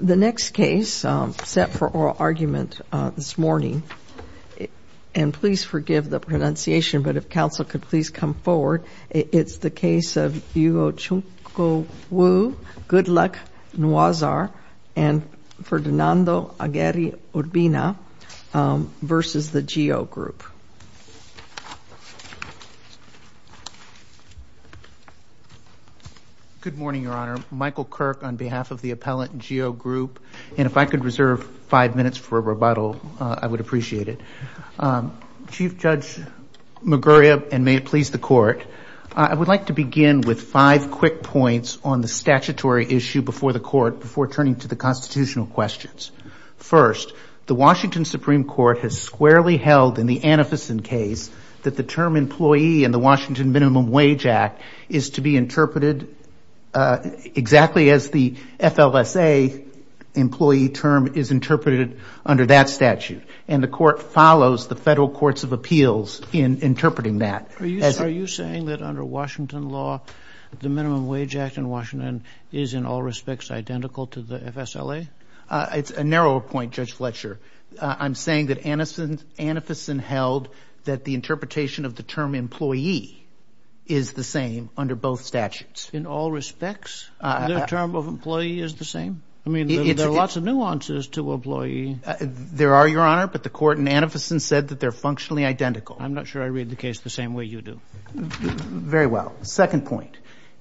The next case set for oral argument this morning, and please forgive the pronunciation, but if counsel could please come forward, it's the case of Ugochukwu, Goodluck, Nwauzor, and Ferdinando Aguirre-Urbina v. The GEO Group. Good morning, Your Honor. Michael Kirk on behalf of the appellant, GEO Group. And if I could reserve five minutes for a rebuttal, I would appreciate it. Chief Judge Maguria, and may it please the court, I would like to begin with five quick points on the statutory issue before the court, before turning to the constitutional questions. First, the Washington Supreme Court has squarely held in the Anificen case that the term employee in the Washington Minimum Wage Act is to be interpreted exactly as the FLSA employee term is interpreted under that statute. And the court follows the federal courts of appeals in interpreting that. Are you saying that under Washington law, the Minimum Wage Act in Washington is in all respects identical to the FSLA? It's a narrower point, Judge Fletcher. I'm saying that Anificen held that the interpretation of the term employee is the same under both statutes. In all respects? The term of employee is the same? I mean, there are lots of nuances to employee. There are, Your Honor. But the court in Anificen said that they're functionally identical. I'm not sure I read the case the same way you do. Very well. Second point,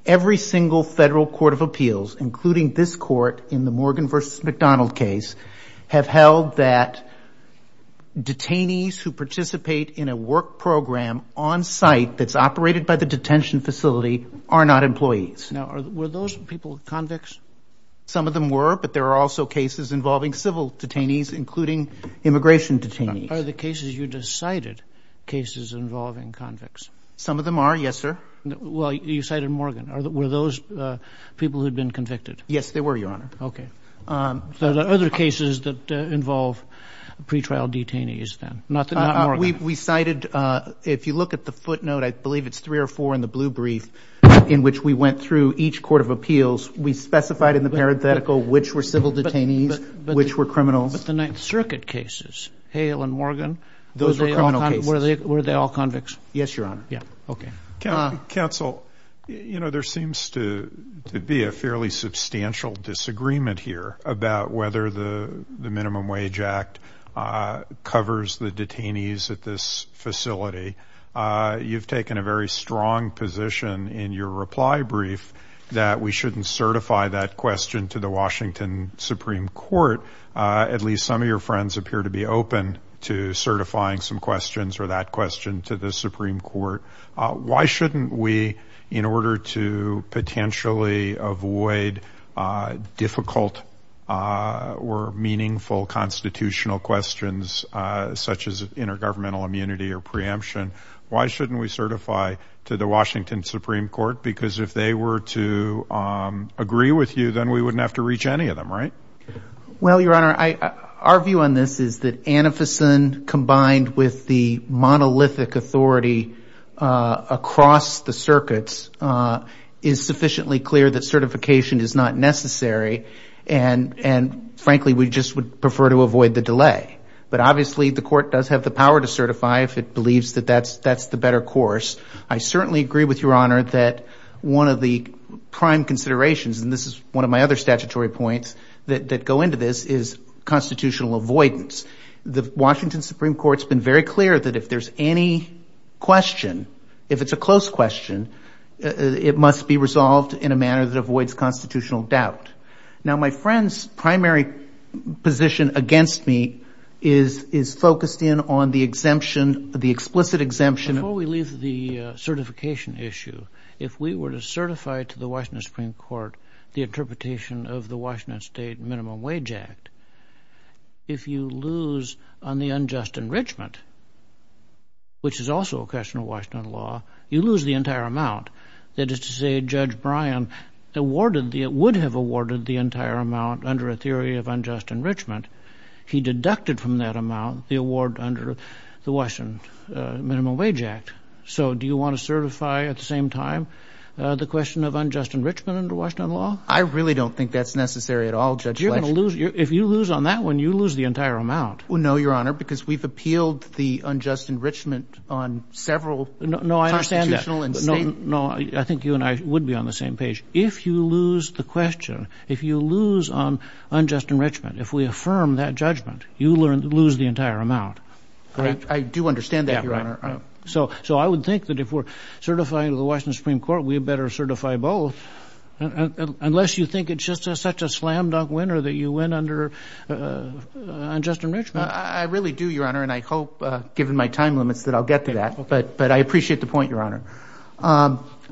every single federal court of appeals, including this court in the Morgan versus McDonald case, have held that detainees who participate in a work program on site that's operated by the detention facility are not employees. Now, were those people convicts? Some of them were, but there are also cases involving civil detainees, including immigration detainees. Are the cases you just cited cases involving convicts? Some of them are, yes, sir. Well, you cited Morgan. Were those people who had been convicted? Yes, they were, Your Honor. OK. So there are other cases that involve pretrial detainees then, not Morgan? We cited, if you look at the footnote, I believe it's three or four in the blue brief, in which we went through each court of appeals. We specified in the parenthetical which were civil detainees, which were criminals. But the Ninth Circuit cases, Hale and Morgan, those were criminal cases. Were they all convicts? Yes, Your Honor. Yeah, OK. Counsel, there seems to be a fairly substantial disagreement here about whether the Minimum Wage Act covers the detainees at this facility. You've taken a very strong position in your reply brief that we shouldn't certify that question to the Washington Supreme Court. At least some of your friends appear to be open to certifying some questions or that question to the Supreme Court. Why shouldn't we, in order to potentially avoid difficult or meaningful constitutional questions, such as intergovernmental immunity or preemption, why shouldn't we certify to the Washington Supreme Court? Because if they were to agree with you, then we wouldn't have to reach any of them, right? Well, Your Honor, our view on this is that Anificen, combined with the monolithic authority across the circuits, is sufficiently clear that certification is not necessary. And frankly, we just would prefer to avoid the delay. But obviously, the court does have the power to certify if it believes that that's the better course. I certainly agree with Your Honor that one of the prime considerations, and this is one of my other statutory points that go into this, is constitutional avoidance. The Washington Supreme Court's been very clear that if there's any question, if it's a close question, it must be resolved in a manner that avoids constitutional doubt. Now, my friend's primary position against me is focused in on the exemption, the explicit exemption. Before we leave the certification issue, if we were to certify to the Washington Supreme Court the interpretation of the Washington State Minimum Wage Act, if you lose on the unjust enrichment, which is also a question of Washington law, you lose the entire amount. That is to say, Judge Bryan awarded the, would have awarded the entire amount under a theory of unjust enrichment. He deducted from that amount the award under the Washington Minimum Wage Act. So do you want to certify at the same time the question of unjust enrichment under Washington law? I really don't think that's necessary at all, Judge Fletcher. If you lose on that one, you lose the entire amount. No, Your Honor, because we've appealed the unjust enrichment on several constitutional and state. No, I think you and I would be on the same page. If you lose the question, if you lose on unjust enrichment, if we affirm that judgment, you lose the entire amount. I do understand that, Your Honor. So I would think that if we're certifying to the Washington Supreme Court, we better certify both. Unless you think it's just such a slam-dunk winner that you win under unjust enrichment. I really do, Your Honor, and I hope, given my time limits, that I'll get to that. But I appreciate the point, Your Honor.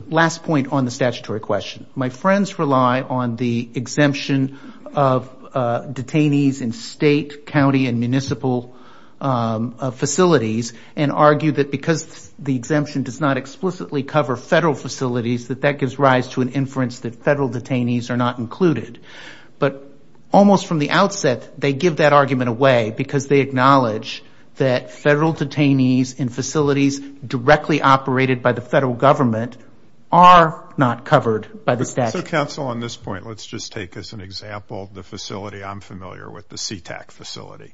Last point on the statutory question. My friends rely on the exemption of detainees in state, county, and municipal facilities and argue that because the exemption does not explicitly cover federal facilities, that that gives rise to an inference that federal detainees are not included. But almost from the outset, they give that argument away because they acknowledge that federal detainees in facilities directly operated by the federal government are not covered by the statute. So counsel, on this point, let's just take as an example the facility I'm familiar with, the Sea-Tac facility.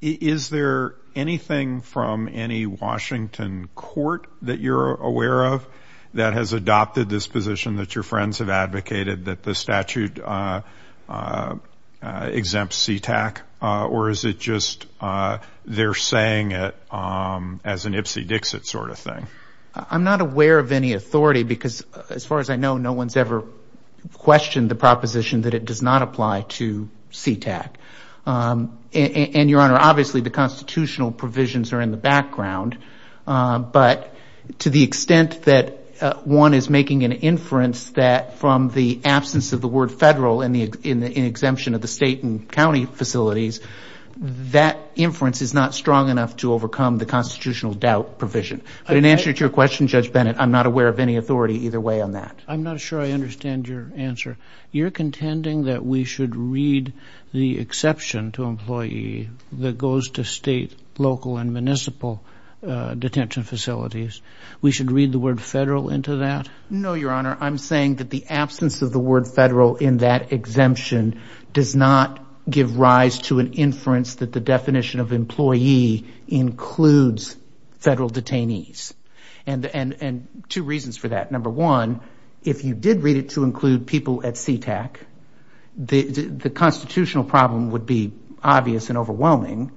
Is there anything from any Washington court that you're aware of that has adopted this position that your friends have advocated, that the statute exempts Sea-Tac? Or is it just they're saying it as an Ipsy Dixit sort of thing? I'm not aware of any authority because, as far as I know, no one's ever questioned the proposition that it does not apply to Sea-Tac. And, Your Honor, obviously, the constitutional provisions are in the background. But to the extent that one is making an inference that from the absence of the word federal in the exemption of the state and county facilities, that inference is not strong enough to overcome the constitutional doubt provision. But in answer to your question, Judge Bennett, I'm not aware of any authority either way on that. I'm not sure I understand your answer. You're contending that we should read the exception to employee that goes to state, local, and municipal detention facilities. We should read the word federal into that? No, Your Honor. I'm saying that the absence of the word federal in that exemption does not give rise to an inference that the definition of employee includes federal detainees. And two reasons for that. Number one, if you did read it to include people at Sea-Tac, the constitutional problem would be obvious and overwhelming.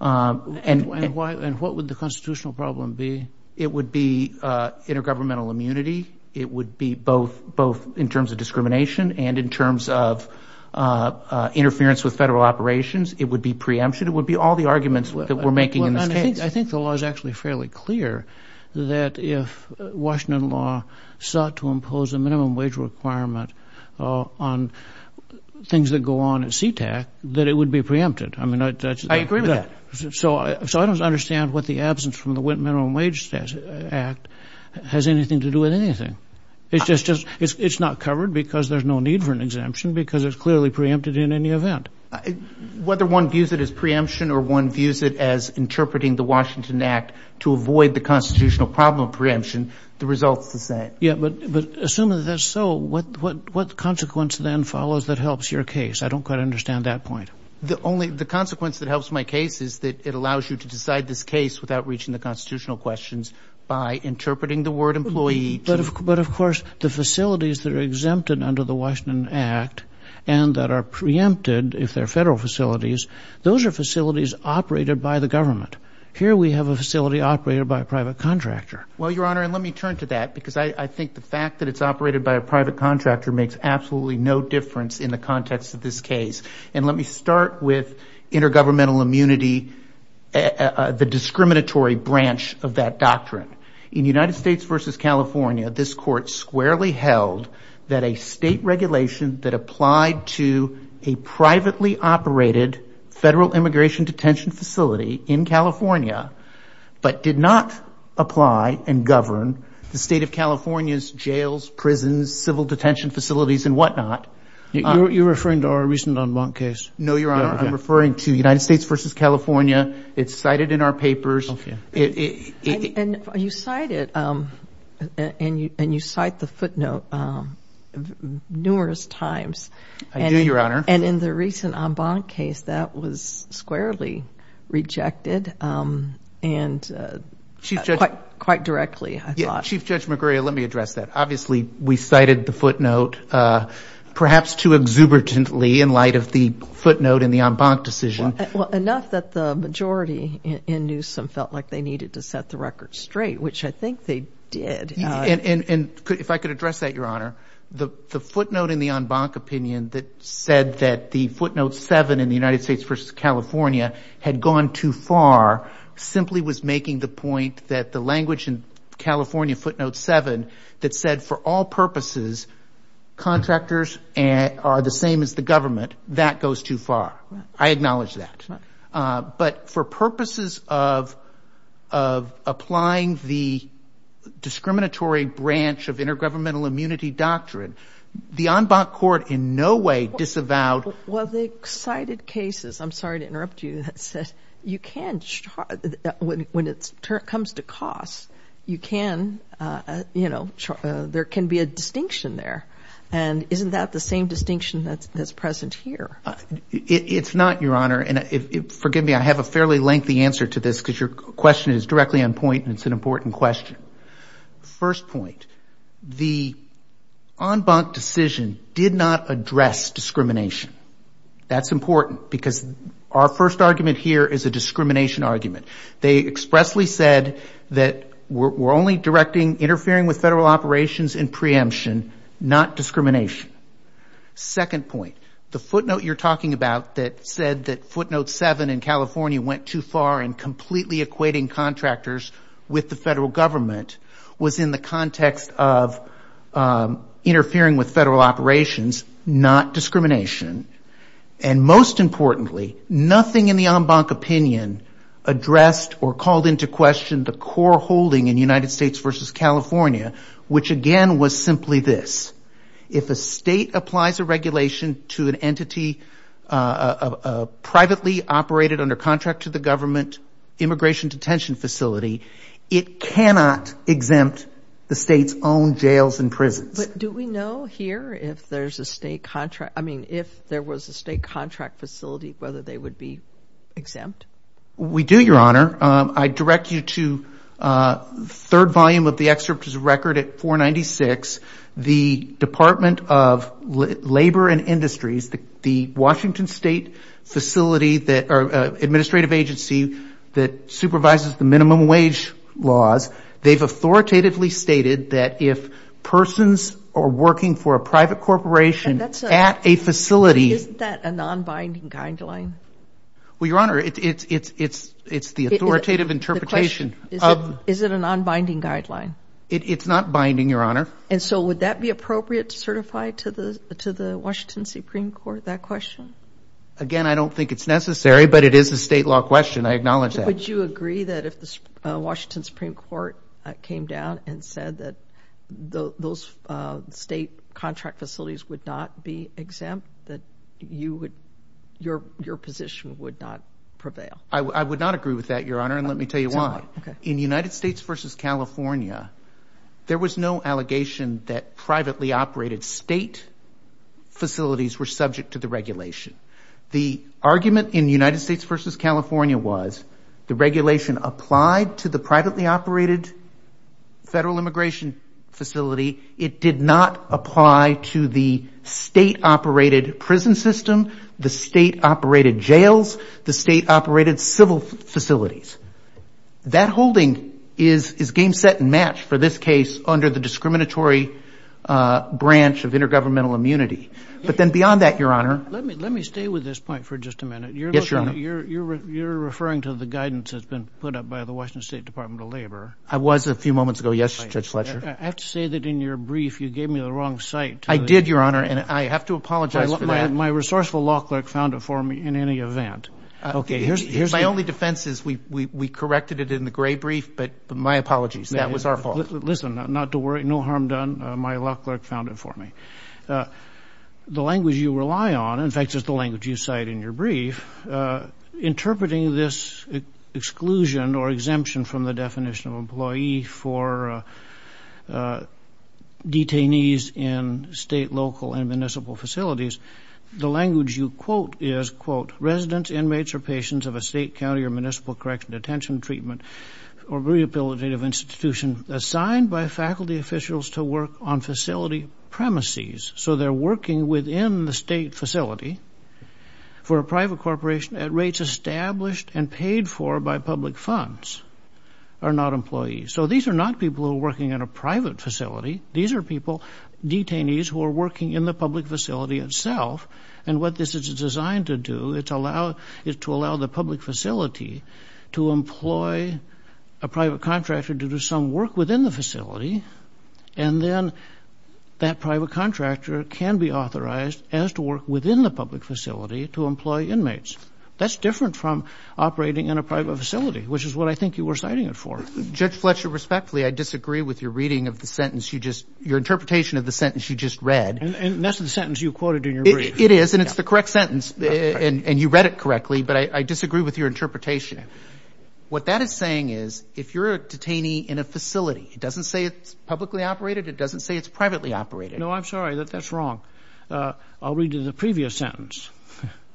And what would the constitutional problem be? It would be intergovernmental immunity. It would be both in terms of discrimination and in terms of interference with federal operations. It would be preemption. It would be all the arguments that we're making in this case. I think the law is actually fairly clear that if Washington law sought to impose a minimum wage requirement on things that go on at Sea-Tac, that it would be preempted. I agree with that. So I don't understand what the absence from the minimum wage act has anything to do with anything. It's just not covered because there's no need for an exemption because it's clearly preempted in any event. Whether one views it as preemption or one views it as interpreting the Washington Act to avoid the constitutional problem of preemption, the result's the same. Yeah, but assuming that's so, what consequence then follows that helps your case? I don't quite understand that point. The consequence that helps my case is that it allows you to decide this case without reaching the constitutional questions by interpreting the word employee to. But of course, the facilities that are exempted under the Washington Act and that are preempted, if they're federal facilities, those are facilities operated by the government. Here we have a facility operated by a private contractor. Well, Your Honor, let me turn to that because I think the fact that it's operated by a private contractor makes absolutely no difference in the context of this case. And let me start with intergovernmental immunity, the discriminatory branch of that doctrine. In United States versus California, this court squarely held that a state regulation that applied to a privately operated federal immigration detention facility in California, but did not apply and govern the state of California's jails, prisons, civil detention facilities, and whatnot. You're referring to our recent en banc case? No, Your Honor. I'm referring to United States versus California. It's cited in our papers. And you cite it, and you cite the footnote numerous times. I do, Your Honor. And in the recent en banc case, that was squarely rejected. And quite directly, I thought. Chief Judge McGregor, let me address that. Obviously, we cited the footnote perhaps too exuberantly in light of the footnote in the en banc decision. Well, enough that the majority in Newsom felt like they needed to set the record straight, which I think they did. And if I could address that, Your Honor, the footnote in the en banc opinion that said that the footnote seven in the United States versus California had gone too far, simply was making the point that the language in California footnote seven that said, for all purposes, contractors are the same as the government, that goes too far. I acknowledge that. But for purposes of applying the discriminatory branch of intergovernmental immunity doctrine, the en banc court in no way disavowed. Well, they cited cases. I'm sorry to interrupt you. You can, when it comes to costs, there can be a distinction there. And isn't that the same distinction that's present here? It's not, Your Honor. And forgive me, I have a fairly lengthy answer to this, because your question is directly on point and it's an important question. First point, the en banc decision did not address discrimination. That's important, because our first argument here is a discrimination argument. They expressly said that we're only interfering with federal operations in preemption, not discrimination. Second point, the footnote you're talking about that said that footnote seven in California went too far in completely equating contractors with the federal government was in the context of interfering with federal operations, not discrimination. And most importantly, nothing in the en banc opinion addressed or called into question the core holding in United States versus California, which again was simply this. If a state applies a regulation to an entity privately operated under contract to the government immigration detention facility, it cannot exempt the state's own jails and prisons. Do we know here if there's a state contract? I mean, if there was a state contract facility, whether they would be exempt? We do, Your Honor. I direct you to the third volume of the excerpt is a record at 496. The Department of Labor and Industries, the Washington state administrative agency that supervises the minimum wage laws, they've authoritatively stated that if persons are working for a private corporation at a facility. Isn't that a non-binding guideline? Well, Your Honor, it's the authoritative interpretation. Is it a non-binding guideline? It's not binding, Your Honor. And so would that be appropriate to certify to the Washington Supreme Court, that question? Again, I don't think it's necessary, but it is a state law question. I acknowledge that. Would you agree that if the Washington Supreme Court came down and said that those state contract facilities would not be exempt, that your position would not prevail? I would not agree with that, Your Honor. And let me tell you why. In United States versus California, there was no allegation that privately operated state facilities were subject to the regulation. The argument in United States versus California was the regulation applied to the privately operated federal immigration facility. It did not apply to the state-operated prison system, the state-operated jails, the state-operated civil facilities. That holding is game, set, and match for this case under the discriminatory branch of intergovernmental immunity. But then beyond that, Your Honor. Let me stay with this point for just a minute. Yes, Your Honor. You're referring to the guidance that's been put up by the Washington State Department of Labor. I was a few moments ago, yes, Judge Fletcher. I have to say that in your brief, you gave me the wrong cite. I did, Your Honor. And I have to apologize for that. My resourceful law clerk found it for me in any event. OK, here's the thing. My only defense is we corrected it in the gray brief. But my apologies. That was our fault. Listen, not to worry. No harm done. My law clerk found it for me. The language you rely on, in fact, is the language you cite in your brief, interpreting this exclusion or exemption from the definition of employee for detainees in state, local, and municipal facilities. The language you quote is, quote, residents, inmates, or patients of a state, county, or municipal correctional detention treatment or rehabilitative institution assigned by faculty officials to work on facility premises. So they're working within the state facility for a private corporation at rates established and paid for by public funds, are not employees. So these are not people who are working in a private facility. These are people, detainees, who are working in the public facility itself. And what this is designed to do is to allow the public facility to employ a private contractor to do some work within the facility. And then that private contractor can be authorized as to work within the public facility to employ inmates. That's different from operating in a private facility, which is what I think you were citing it for. Judge Fletcher, respectfully, I disagree with your reading of the sentence you just, your interpretation of the sentence you just read. And that's the sentence you quoted in your brief. It is, and it's the correct sentence. And you read it correctly, but I disagree with your interpretation. What that is saying is, if you're a detainee in a facility, it doesn't say it's publicly operated, it doesn't say it's privately operated. No, I'm sorry, that's wrong. I'll read you the previous sentence,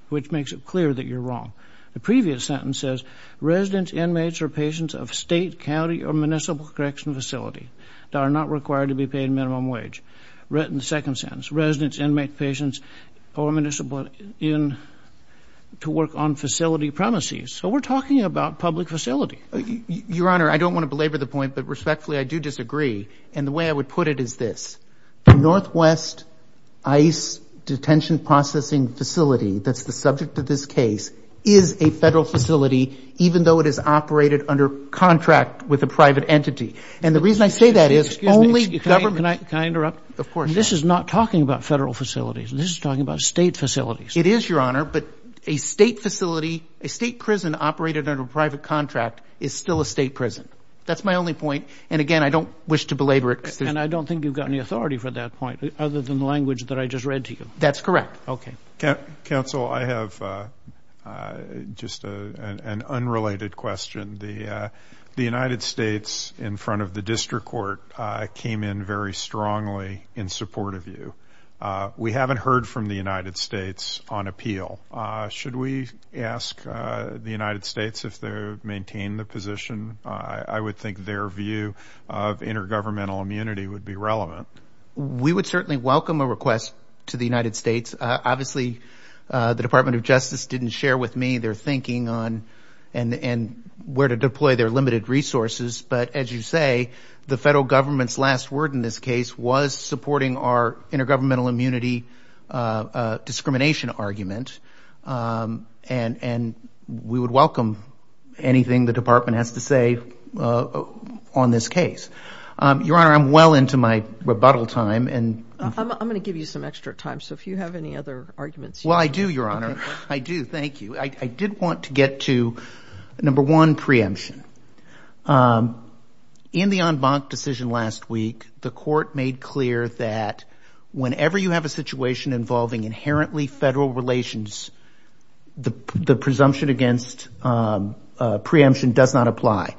which makes it clear that you're wrong. The previous sentence says, residents, inmates, or patients of state, county, or municipal correction facility that are not required to be paid minimum wage. Written second sentence, residents, inmates, patients, or municipal in to work on facility premises. So we're talking about public facility. Your Honor, I don't want to belabor the point, but respectfully, I do disagree. And the way I would put it is this. Northwest ICE detention processing facility, that's the subject of this case, is a federal facility, even though it is operated under contract with a private entity. And the reason I say that is only government. Can I interrupt? Of course, Your Honor. This is not talking about federal facilities. This is talking about state facilities. It is, Your Honor, but a state facility, a state prison operated under a private contract, is still a state prison. That's my only point. And again, I don't wish to belabor it. And I don't think you've got any authority for that point, other than the language that I just read to you. That's correct. OK. Counsel, I have just an unrelated question. The United States, in front of the district court, came in very strongly in support of you. We haven't heard from the United States on appeal. Should we ask the United States if they maintain the position? I would think their view of intergovernmental immunity would be relevant. We would certainly welcome a request to the United States. Obviously, the Department of Justice didn't share with me their thinking on where to deploy their limited resources. But as you say, the federal government's last word in this case was supporting our intergovernmental immunity discrimination argument. And we would welcome anything the department has to say on this case. Your Honor, I'm well into my rebuttal time. I'm going to give you some extra time. So if you have any other arguments. Well, I do, Your Honor. I do, thank you. I did want to get to, number one, preemption. In the en banc decision last week, the court made clear that whenever you have a situation involving inherently federal relations, the presumption against preemption does not apply.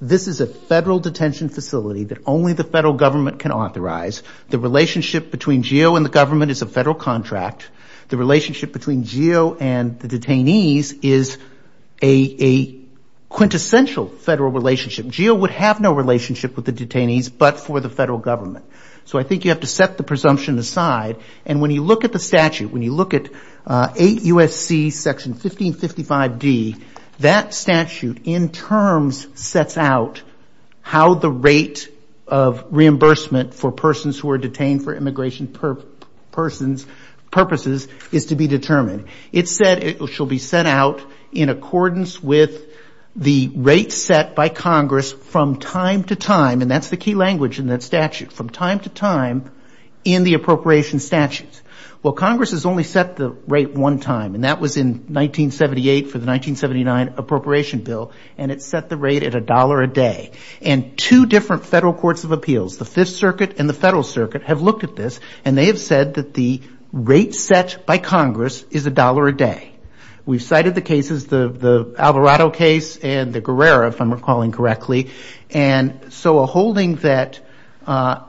This is a federal detention facility that only the federal government can authorize. The relationship between GEO and the government is a federal contract. The relationship between GEO and the detainees is a quintessential federal relationship. GEO would have no relationship with the detainees, but for the federal government. So I think you have to set the presumption aside. And when you look at the statute, when you look at 8 U.S.C. Section 1555D, that statute in terms sets out how the rate of reimbursement for persons who are detained for immigration purposes is to be determined. It said it shall be set out in accordance with the rate set by Congress from time to time. And that's the key language in that statute. From time to time in the appropriation statutes. Well, Congress has only set the rate one time. And that was in 1978 for the 1979 appropriation bill. And it set the rate at $1 a day. And two different federal courts of appeals, the Fifth Circuit and the Federal Circuit, have looked at this. And they have said that the rate set by Congress is $1 a day. We've cited the cases, the Alvarado case and the Guerrera, if I'm recalling correctly. And so a holding that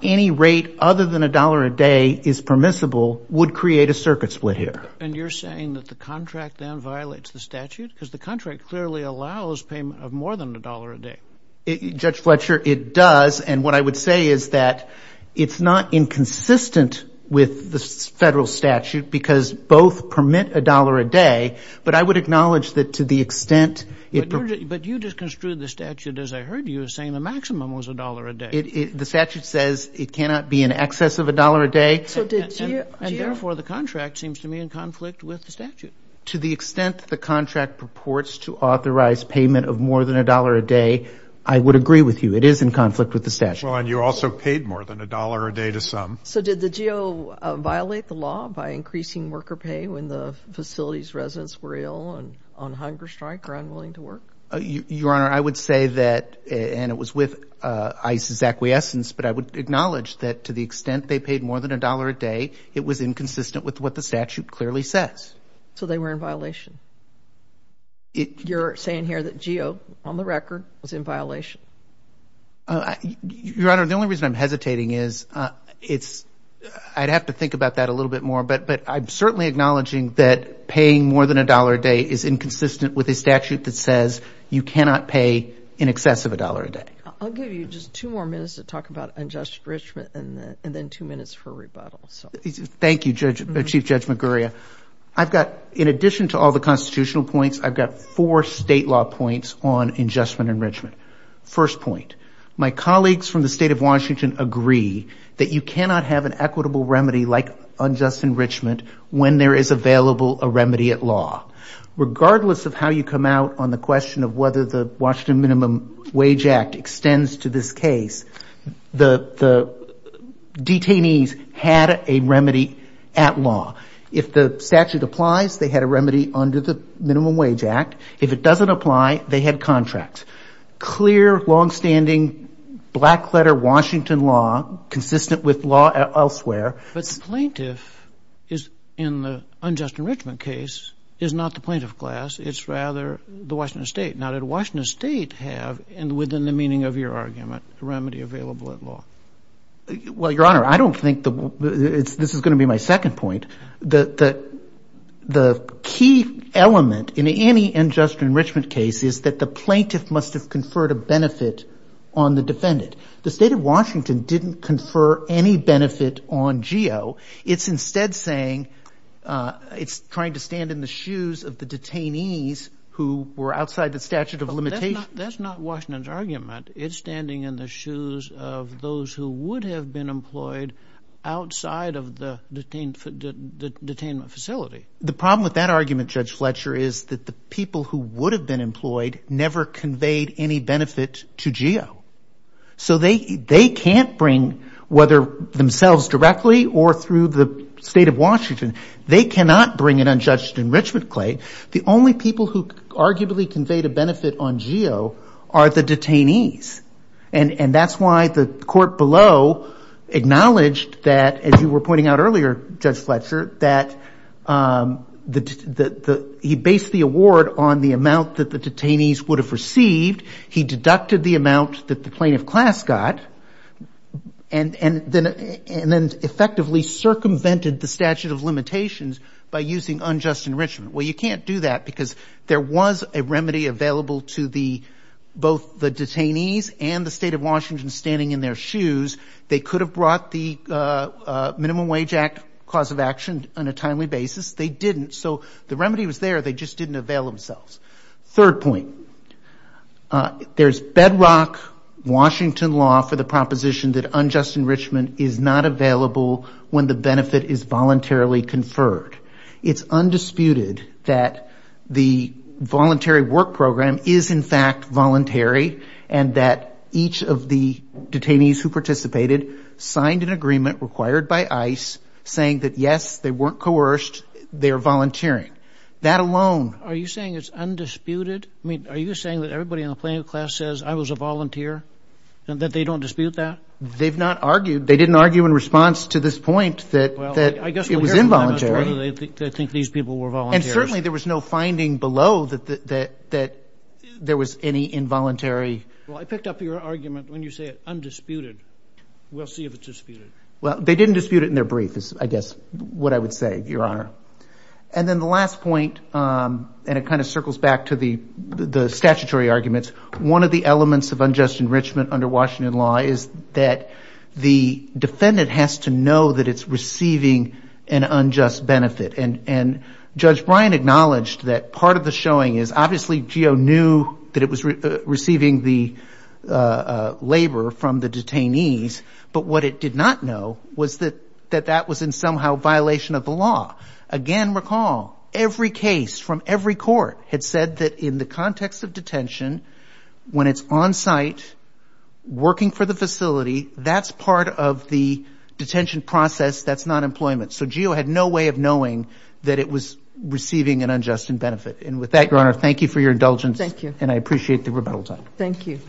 any rate other than $1 a day is permissible would create a circuit split here. And you're saying that the contract then violates the statute? Because the contract clearly allows payment of more than $1 a day. Judge Fletcher, it does. And what I would say is that it's not inconsistent with the federal statute because both permit $1 a day. But I would acknowledge that to the extent it permits. But you just construed the statute, as I heard you, as saying the maximum was $1 a day. The statute says it cannot be in excess of $1 a day. So did GEO. And therefore, the contract seems to me in conflict with the statute. To the extent the contract purports to authorize payment of more than $1 a day, I would agree with you. It is in conflict with the statute. Well, and you also paid more than $1 a day to some. So did the GEO violate the law by increasing worker pay when the facility's residents were ill and on hunger strike or unwilling to work? Your Honor, I would say that, and it was with ICE's acquiescence. But I would acknowledge that to the extent they paid more than $1 a day, it was inconsistent with what the statute clearly says. So they were in violation? You're saying here that GEO, on the record, was in violation? Your Honor, the only reason I'm hesitating is I'd have to think about that a little bit more. But I'm certainly acknowledging that paying more than $1 a day is inconsistent with a statute that says you cannot pay in excess of $1 a day. I'll give you just two more minutes to talk about unjust enrichment and then two minutes for rebuttal. Thank you, Chief Judge McGurria. In addition to all the constitutional points, I've got four state law points on injustice and enrichment. First point, my colleagues from the state of Washington like unjust enrichment when there is available a remedy at law. Regardless of how you come out on the question of whether the Washington Minimum Wage Act extends to this case, the detainees had a remedy at law. If the statute applies, they had a remedy under the Minimum Wage Act. If it doesn't apply, they had contracts. Clear, longstanding, black-letter Washington law, consistent with law elsewhere. But plaintiff, in the unjust enrichment case, is not the plaintiff class. It's rather the Washington state. Now, did Washington state have, within the meaning of your argument, a remedy available at law? Well, Your Honor, I don't think this is going to be my second point. The key element in any unjust enrichment case is that the plaintiff must have conferred a benefit on the defendant. The state of Washington didn't confer any benefit on GEO. It's instead saying it's trying to stand in the shoes of the detainees who were outside the statute of limitations. That's not Washington's argument. It's standing in the shoes of those who would have been employed outside of the detainment facility. The problem with that argument, Judge Fletcher, is that the people who would have been employed never conveyed any benefit to GEO. So they can't bring, whether themselves directly or through the state of Washington, they cannot bring an unjust enrichment claim. The only people who arguably conveyed a benefit on GEO are the detainees. And that's why the court below acknowledged that, as you were pointing out earlier, Judge Fletcher, that he based the award on the amount that the detainees would have received. He deducted the amount that the plaintiff class got, and then effectively circumvented the statute of limitations by using unjust enrichment. Well, you can't do that because there was a remedy available to both the detainees and the state of Washington standing in their shoes. They could have brought the Minimum Wage Act cause of action on a timely basis. They didn't. So the remedy was there. They just didn't avail themselves. Third point. There's bedrock Washington law for the proposition that unjust enrichment is not available when the benefit is voluntarily conferred. It's undisputed that the voluntary work program is, in fact, voluntary, and that each of the detainees who participated signed an agreement required by ICE saying that, yes, they weren't coerced. They're volunteering. That alone. Are you saying it's undisputed? I mean, are you saying that everybody in the plaintiff class says, I was a volunteer, and that they don't dispute that? They've not argued. They didn't argue in response to this point that it was involuntary. Well, I guess we'll hear from them as to whether they think these people were volunteers. And certainly, there was no finding below that there was any involuntary. Well, I picked up your argument when you say undisputed. We'll see if it's disputed. Well, they didn't dispute it in their brief, is I guess what I would say, Your Honor. And then the last point, and it kind of circles back to the statutory arguments, one of the elements of unjust enrichment under Washington law is that the defendant has to know that it's receiving an unjust benefit. And Judge Bryan acknowledged that part of the showing is, obviously, GEO knew that it was receiving the labor from the detainees. But what it did not know was that that was in somehow violation of the law. Again, recall, every case from every court had said that in the context of detention, when it's on site working for the facility, that's part of the detention process. That's not employment. So GEO had no way of knowing that it was receiving an unjust benefit. And with that, Your Honor, thank you for your indulgence. Thank you. And I appreciate the rebuttal time. Thank you.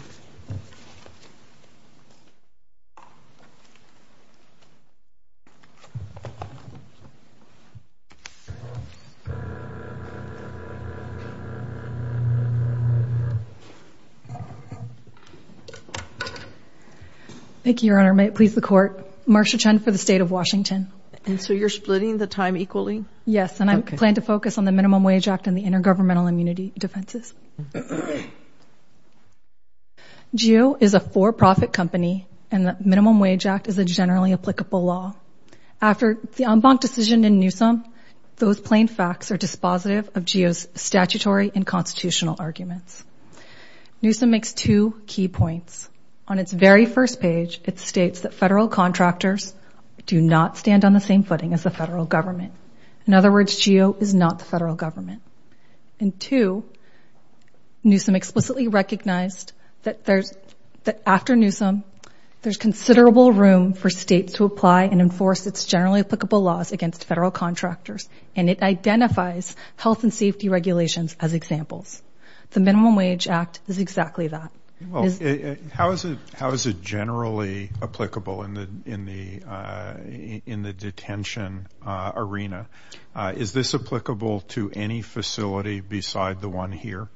Thank you, Your Honor. May it please the Court. Marcia Chen for the State of Washington. And so you're splitting the time equally? Yes. And I plan to focus on the Minimum Wage Act and the Intergovernmental Immunity Defenses. GEO is a for-profit company. And the Minimum Wage Act is a generally applicable law. After the en banc decision in Newsom, those plain facts are dispositive of GEO's statutory and constitutional arguments. Newsom makes two key points. On its very first page, it states that federal contractors do not stand on the same footing as the federal government. In other words, GEO is not the federal government. And two, Newsom explicitly recognized that after Newsom, there's considerable room for states to apply and enforce its generally applicable laws against federal contractors. And it identifies health and safety regulations as examples. The Minimum Wage Act is exactly that. How is it generally applicable in the detention arena? Is this applicable to any facility beside the one here?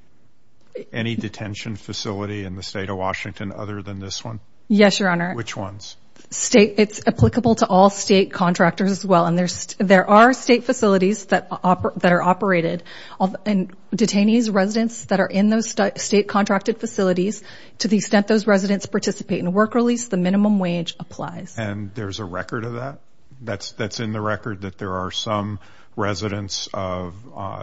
Any detention facility in the State of Washington other than this one? Yes, Your Honor. Which ones? It's applicable to all state contractors as well. And there are state facilities that are operated. And detainees, residents that are in those state contracted facilities, to the extent those residents participate in work release, the minimum wage applies. And there's a record of that? That's in the record that there are some residents of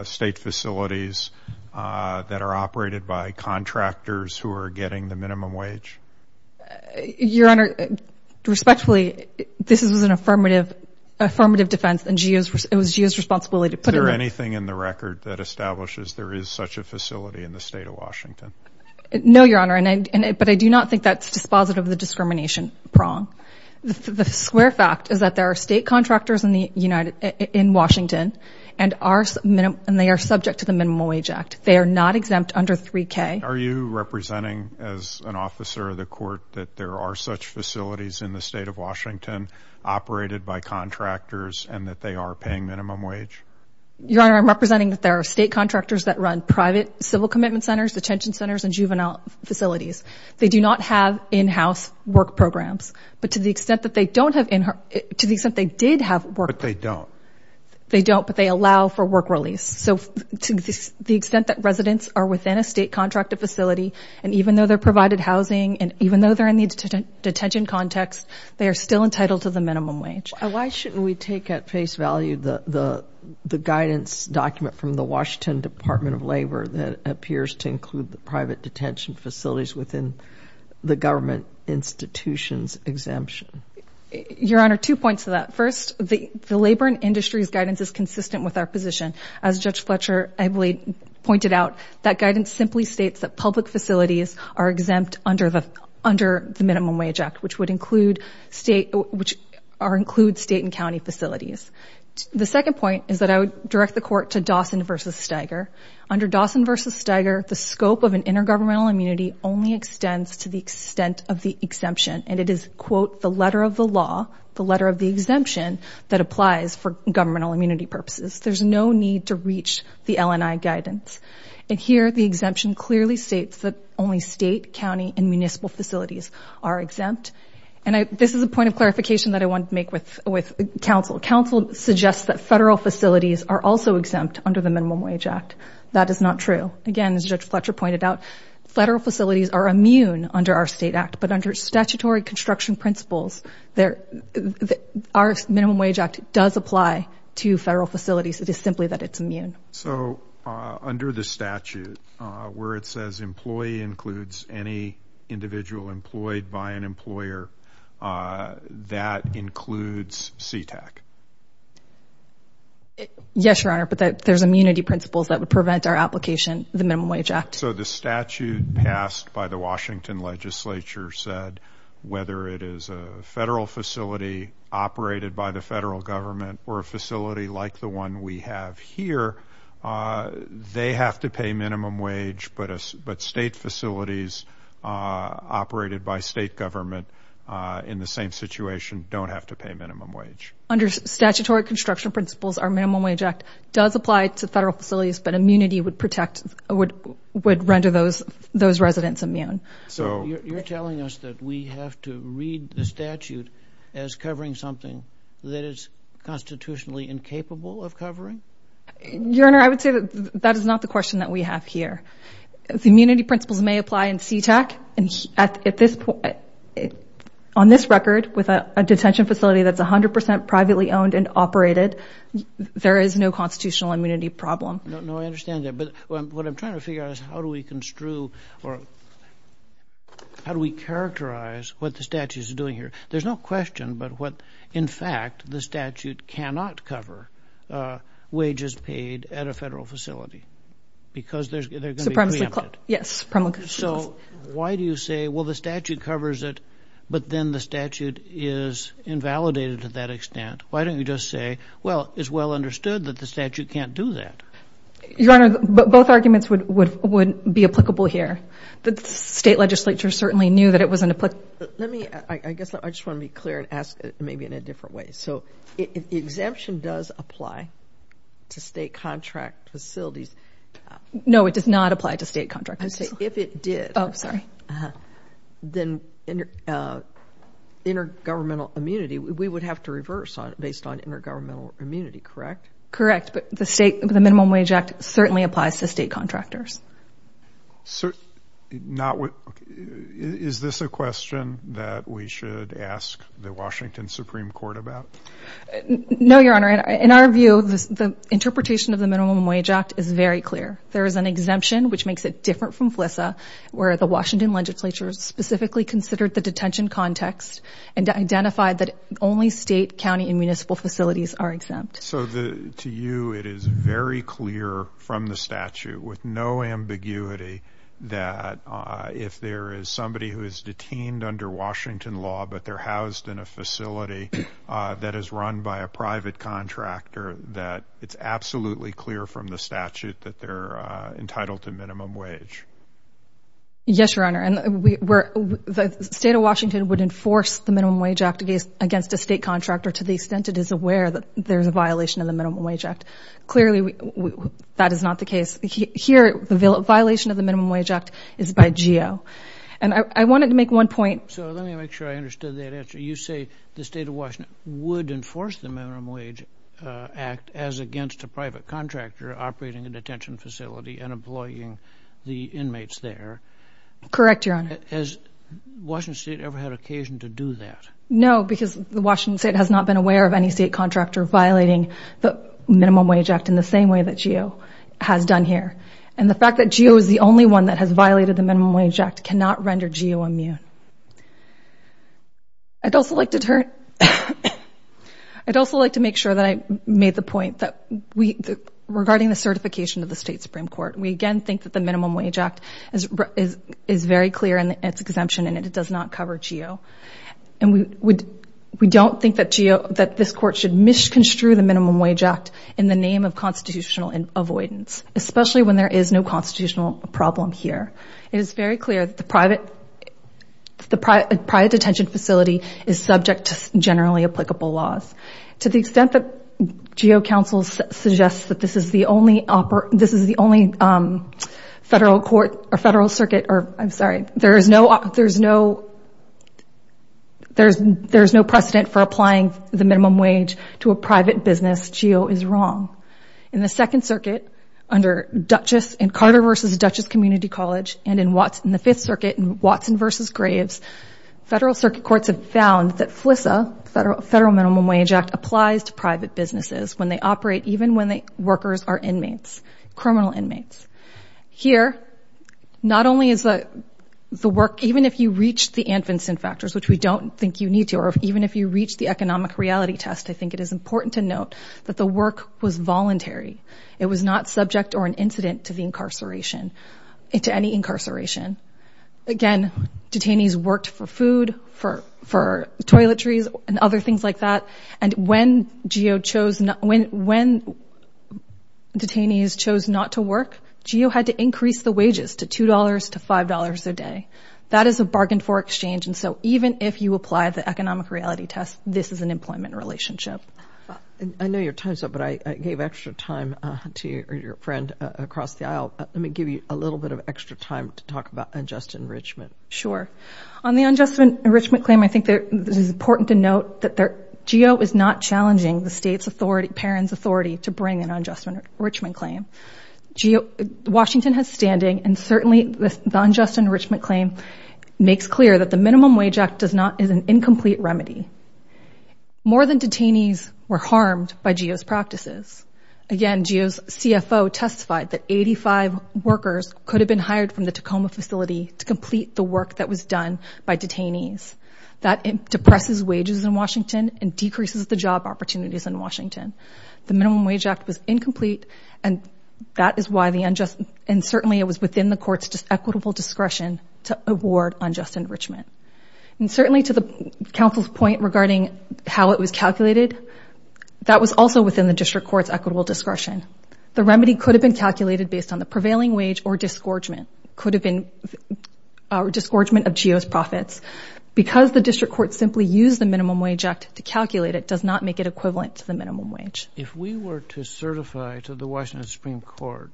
state facilities that are operated by contractors who are getting the minimum wage? Your Honor, respectfully, this is an affirmative defense. And it was GEO's responsibility to put it there. Anything in the record that establishes there is such a facility in the State of Washington? No, Your Honor. But I do not think that's dispositive of the discrimination prong. The square fact is that there are state contractors in Washington. And they are subject to the Minimum Wage Act. They are not exempt under 3K. Are you representing, as an officer of the court, that there are such facilities in the State of Washington operated by contractors and that they are paying minimum wage? Your Honor, I'm representing that there are state contractors that run private civil commitment centers, detention centers, and juvenile facilities. They do not have in-house work programs. But to the extent that they don't have in-house, to the extent they did have work programs. But they don't. They don't, but they allow for work release. So to the extent that residents are within a state contracted facility, and even though they're provided housing, and even though they're in the detention context, they are still entitled to the minimum wage. Why shouldn't we take at face value the guidance document from the Washington Department of Labor that appears to include the private detention facilities within the government institution's exemption? Your Honor, two points to that. First, the Labor and Industries Guidance is consistent with our position. As Judge Fletcher pointed out, that guidance simply states that public facilities are exempt under the Minimum Wage Act, which would include state and county facilities. The second point is that I would direct the Court to Dawson versus Steiger. Under Dawson versus Steiger, the scope of an intergovernmental immunity only extends to the extent of the exemption. And it is, quote, the letter of the law, the letter of the exemption, that applies for governmental immunity purposes. There's no need to reach the LNI guidance. And here, the exemption clearly states that only state, county, and municipal facilities are exempt. And this is a point of clarification that I want to make with counsel. Counsel suggests that federal facilities are also exempt under the Minimum Wage Act. That is not true. Again, as Judge Fletcher pointed out, federal facilities are immune under our state act. But under statutory construction principles, our Minimum Wage Act does apply to federal facilities. It is simply that it's immune. So under the statute, where it says employee includes any individual employed by an employer, that includes CTAC. Yes, Your Honor. But there's immunity principles that would prevent our application of the Minimum Wage Act. So the statute passed by the Washington legislature said whether it is a federal facility operated by the federal government or a facility like the one we have here, they have to pay minimum wage. But state facilities operated by state government in the same situation don't have to pay minimum wage. Under statutory construction principles, our Minimum Wage Act does apply to federal facilities. But immunity would render those residents immune. So you're telling us that we have to read the statute as covering something that is constitutionally incapable of covering? Your Honor, I would say that that is not the question that we have here. The immunity principles may apply in CTAC. And at this point, on this record, with a detention facility that's 100% privately owned and operated, there is no constitutional immunity problem. No, I understand that. But what I'm trying to figure out is how do we construe, or how do we characterize what the statute is doing here? There's no question about what, in fact, the statute cannot cover, wages paid at a federal facility, because they're going to be preempted. Yes, supremely. So why do you say, well, the statute covers it, but then the statute is invalidated to that extent? Why don't you just say, well, it's well-understood that the statute can't do that? Your Honor, both arguments would be applicable here. The state legislature certainly knew that it was an applicable. I guess I just want to be clear and ask maybe in a different way. So exemption does apply to state contract facilities. No, it does not apply to state contract facilities. If it did, then intergovernmental immunity, we would have to reverse based on intergovernmental immunity, correct? Correct. But the Minimum Wage Act certainly applies to state contractors. So is this a question that we should ask the Washington Supreme Court about? No, Your Honor. In our view, the interpretation of the Minimum Wage Act is very clear. There is an exemption, which makes it different from FLISA, where the Washington legislature specifically considered the detention context and identified that only state, county, and municipal facilities are exempt. So to you, it is very clear from the statute, with no ambiguity, that if there is somebody who is detained under Washington law, but they're housed in a facility that is run by a private contractor, that it's absolutely clear from the statute that they're entitled to minimum wage. Yes, Your Honor. And the state of Washington would enforce the Minimum Wage Act against a state contractor to the extent it is aware that there's a violation of the Minimum Wage Act. Clearly, that is not the case. Here, the violation of the Minimum Wage Act is by GEO. And I wanted to make one point. So let me make sure I understood that answer. You say the state of Washington would enforce the Minimum Wage Act as against a private contractor operating a detention facility and employing the inmates there. Correct, Your Honor. Has Washington state ever had occasion to do that? No, because the Washington state has not been aware of any state contractor violating the Minimum Wage Act in the same way that GEO has done here. And the fact that GEO is the only one that has violated the Minimum Wage Act cannot render GEO immune. I'd also like to make sure that I made the point that, regarding the certification of the state Supreme Court, we again think that the Minimum Wage Act is very clear in its exemption, and it does not cover GEO. And we don't think that this court should misconstrue the Minimum Wage Act in the name of constitutional avoidance, especially when there is no constitutional problem here. It is very clear that the private detention facility is subject to generally applicable laws. To the extent that GEO counsel suggests that this is the only federal court or federal circuit, or I'm sorry, there is no precedent for applying the minimum wage to a private business, GEO is wrong. In the Second Circuit under Duchess, in Carter versus Duchess Community College, and in the Fifth Circuit, in Watson versus Graves, federal circuit courts have found that FLISA, Federal Minimum Wage Act, applies to private businesses when they operate, even when the workers are inmates, criminal inmates. Here, not only is the work, even if you reach the Anfinsen factors, which we don't think you need to, or even if you reach the economic reality test, I think it is important to note that the work was voluntary. It was not subject or an incident to the incarceration, to any incarceration. Again, detainees worked for food, for toiletries, and other things like that. And when GEO chose, when detainees chose not to work, GEO had to increase the wages to $2 to $5 a day. That is a bargain for exchange. And so even if you apply the economic reality test, this is an employment relationship. I know your time's up, but I gave extra time to your friend across the aisle. Let me give you a little bit of extra time to talk about unjust enrichment. Sure. On the unjust enrichment claim, I think it is important to note that GEO is not challenging the state's authority, parent's authority, to bring an unjust enrichment claim. Washington has standing. And certainly, the unjust enrichment claim makes clear that the Minimum Wage Act is an incomplete remedy. More than detainees were harmed by GEO's practices. Again, GEO's CFO testified that 85 workers could have been hired from the Tacoma facility to complete the work that was done by detainees. That depresses wages in Washington and decreases the job opportunities in Washington. The Minimum Wage Act was incomplete. And that is why the unjust, and certainly it was within the court's equitable discretion to award unjust enrichment. And certainly, to the counsel's point regarding how it was calculated, that was also within the district court's equitable discretion. The remedy could have been calculated based on the prevailing wage or disgorgement of GEO's profits. Because the district court simply used the Minimum Wage Act to calculate it does not make it equivalent to the minimum wage. If we were to certify to the Washington Supreme Court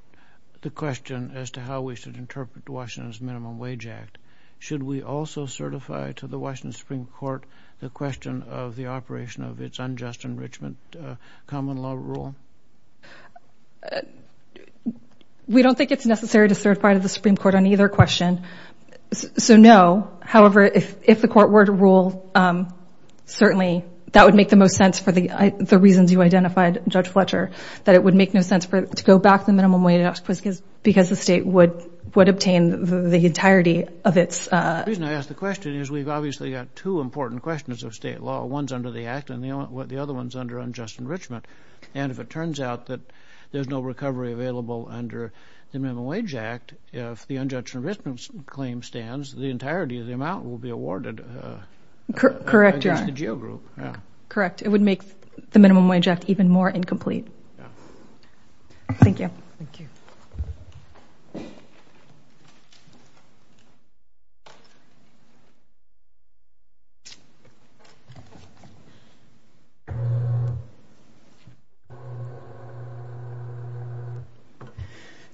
the question as to how we should interpret Washington's Minimum Wage Act, should we also certify to the Washington Supreme Court the question of the operation of its unjust enrichment common law rule? We don't think it's necessary to certify to the Supreme Court on either question. So no. However, if the court were to rule, certainly that would make the most sense for the reasons you identified, Judge Fletcher, that it would make no sense to go back to the Minimum Wage Act because the state would obtain the entirety of its. The reason I ask the question is we've obviously got two important questions of state law. One's under the act, and the other one's under unjust enrichment. And if it turns out that there's no recovery available under the Minimum Wage Act, if the unjust enrichment claim stands, the entirety of the amount will be awarded against the GEO group. Correct, it would make the Minimum Wage Act even more incomplete. Thank you. Thank you.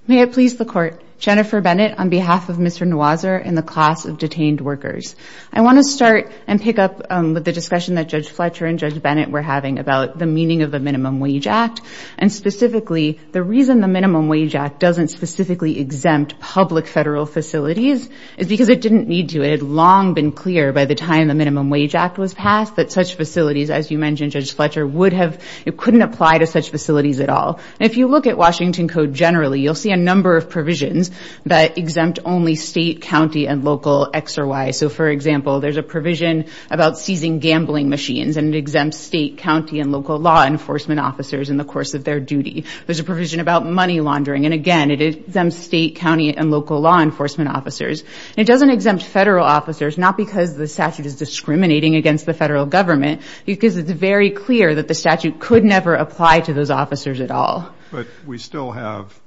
May it please the court. Jennifer Bennett on behalf of Mr. Noiser and the class of detained workers. I want to start and pick up with the discussion that Judge Fletcher and Judge Bennett were having about the meaning of the Minimum Wage Act, and specifically, the reason the Minimum Wage Act doesn't specifically exempt public federal facilities is because it didn't need to. It had long been clear by the time the Minimum Wage Act was passed that such facilities, as you mentioned Judge Fletcher, couldn't apply to such facilities at all. If you look at Washington Code generally, you'll see a number of provisions that exempt only state, county, and local X or Y. So for example, there's a provision about seizing gambling machines, and it exempts state, county, and local law enforcement officers in the course of their duty. There's a provision about money laundering, and again, it exempts state, county, and local law enforcement officers. It doesn't exempt federal officers, not because the statute is discriminating against the federal government, because it's very clear that the statute could never apply to those officers at all. But we still have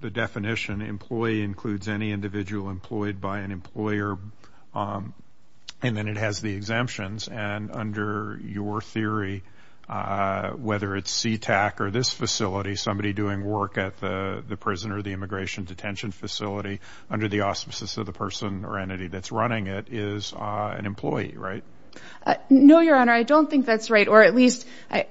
the definition, employee includes any individual employed by an employer, and then it has the exemptions. And under your theory, whether it's CTAC or this facility, somebody doing work at the prison or the immigration detention facility under the auspices of the person or entity that's running it is an employee, right? No, Your Honor. I don't think that's right, or at least I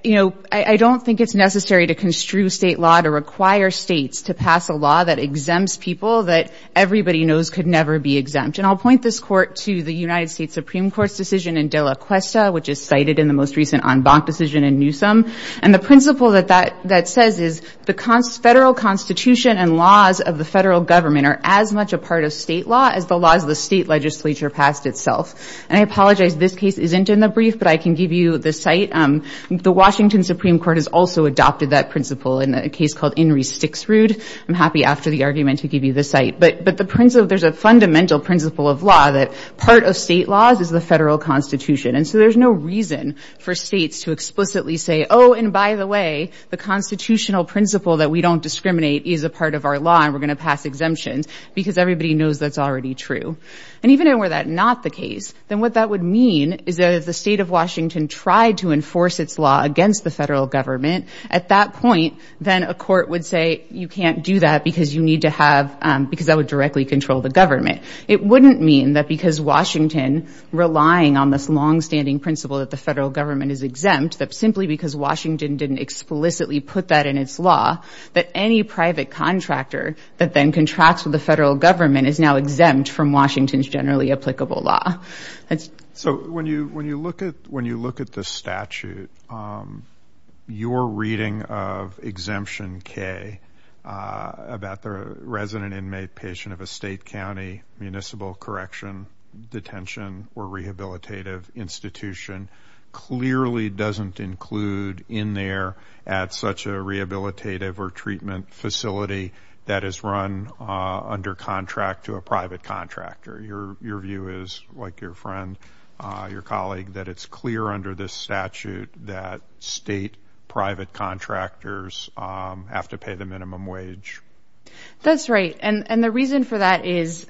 don't think it's necessary to construe state law to require states to pass a law that exempts people that everybody knows could never be exempt. And I'll point this court to the United States Supreme Court's decision in Dela Cuesta, which is cited in the most recent en banc decision in Newsom. And the principle that that says is the federal constitution and laws of the federal government are as much a part of state law as the laws of the state legislature passed itself. And I apologize, this case isn't in the brief, but I can give you the site. The Washington Supreme Court has also adopted that principle in a case called In Re Sticks Rude. I'm happy after the argument to give you the site. But there's a fundamental principle of law that part of state laws is the federal constitution. And so there's no reason for states to explicitly say, oh, and by the way, the constitutional principle that we don't discriminate is a part of our law and we're going to pass exemptions, because everybody knows that's already true. And even were that not the case, then what that would mean is that if the state of Washington tried to enforce its law against the federal government, at that point, then a court would say you can't do that because you need to have, because that would directly control the government. It wouldn't mean that because Washington, relying on this longstanding principle that the federal government is exempt, that simply because Washington didn't explicitly put that in its law, that any private contractor that then contracts with the federal government is now exempt from Washington's generally applicable law. So when you look at the statute, your reading of Exemption K about the resident inmate patient of a state, county, municipal correction, detention, or rehabilitative institution clearly doesn't include in there at such a rehabilitative or treatment facility that is run under contract to a private contractor. Your view is, like your friend, your colleague, that it's clear under this statute that state private contractors have to pay the minimum wage. That's right. And the reason for that is,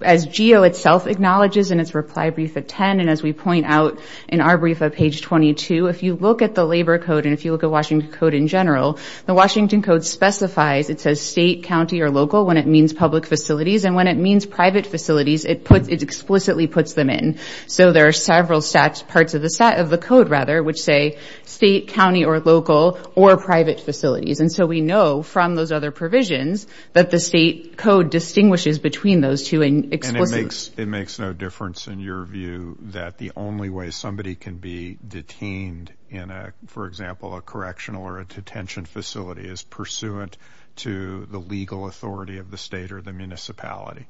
as GEO itself acknowledges in its reply brief at 10, and as we point out in our brief at page 22, if you look at the Labor Code and if you look at Washington Code in general, the Washington Code specifies, it says state, county, or local when it means public facilities. And when it means private facilities, it explicitly puts them in. So there are several parts of the code, rather, which say state, county, or local, or private facilities. And so we know from those other provisions that the state code distinguishes between those two in explicit. It makes no difference in your view that the only way somebody can be detained in, for example, a correctional or a detention facility is pursuant to the legal authority of the state or the municipality.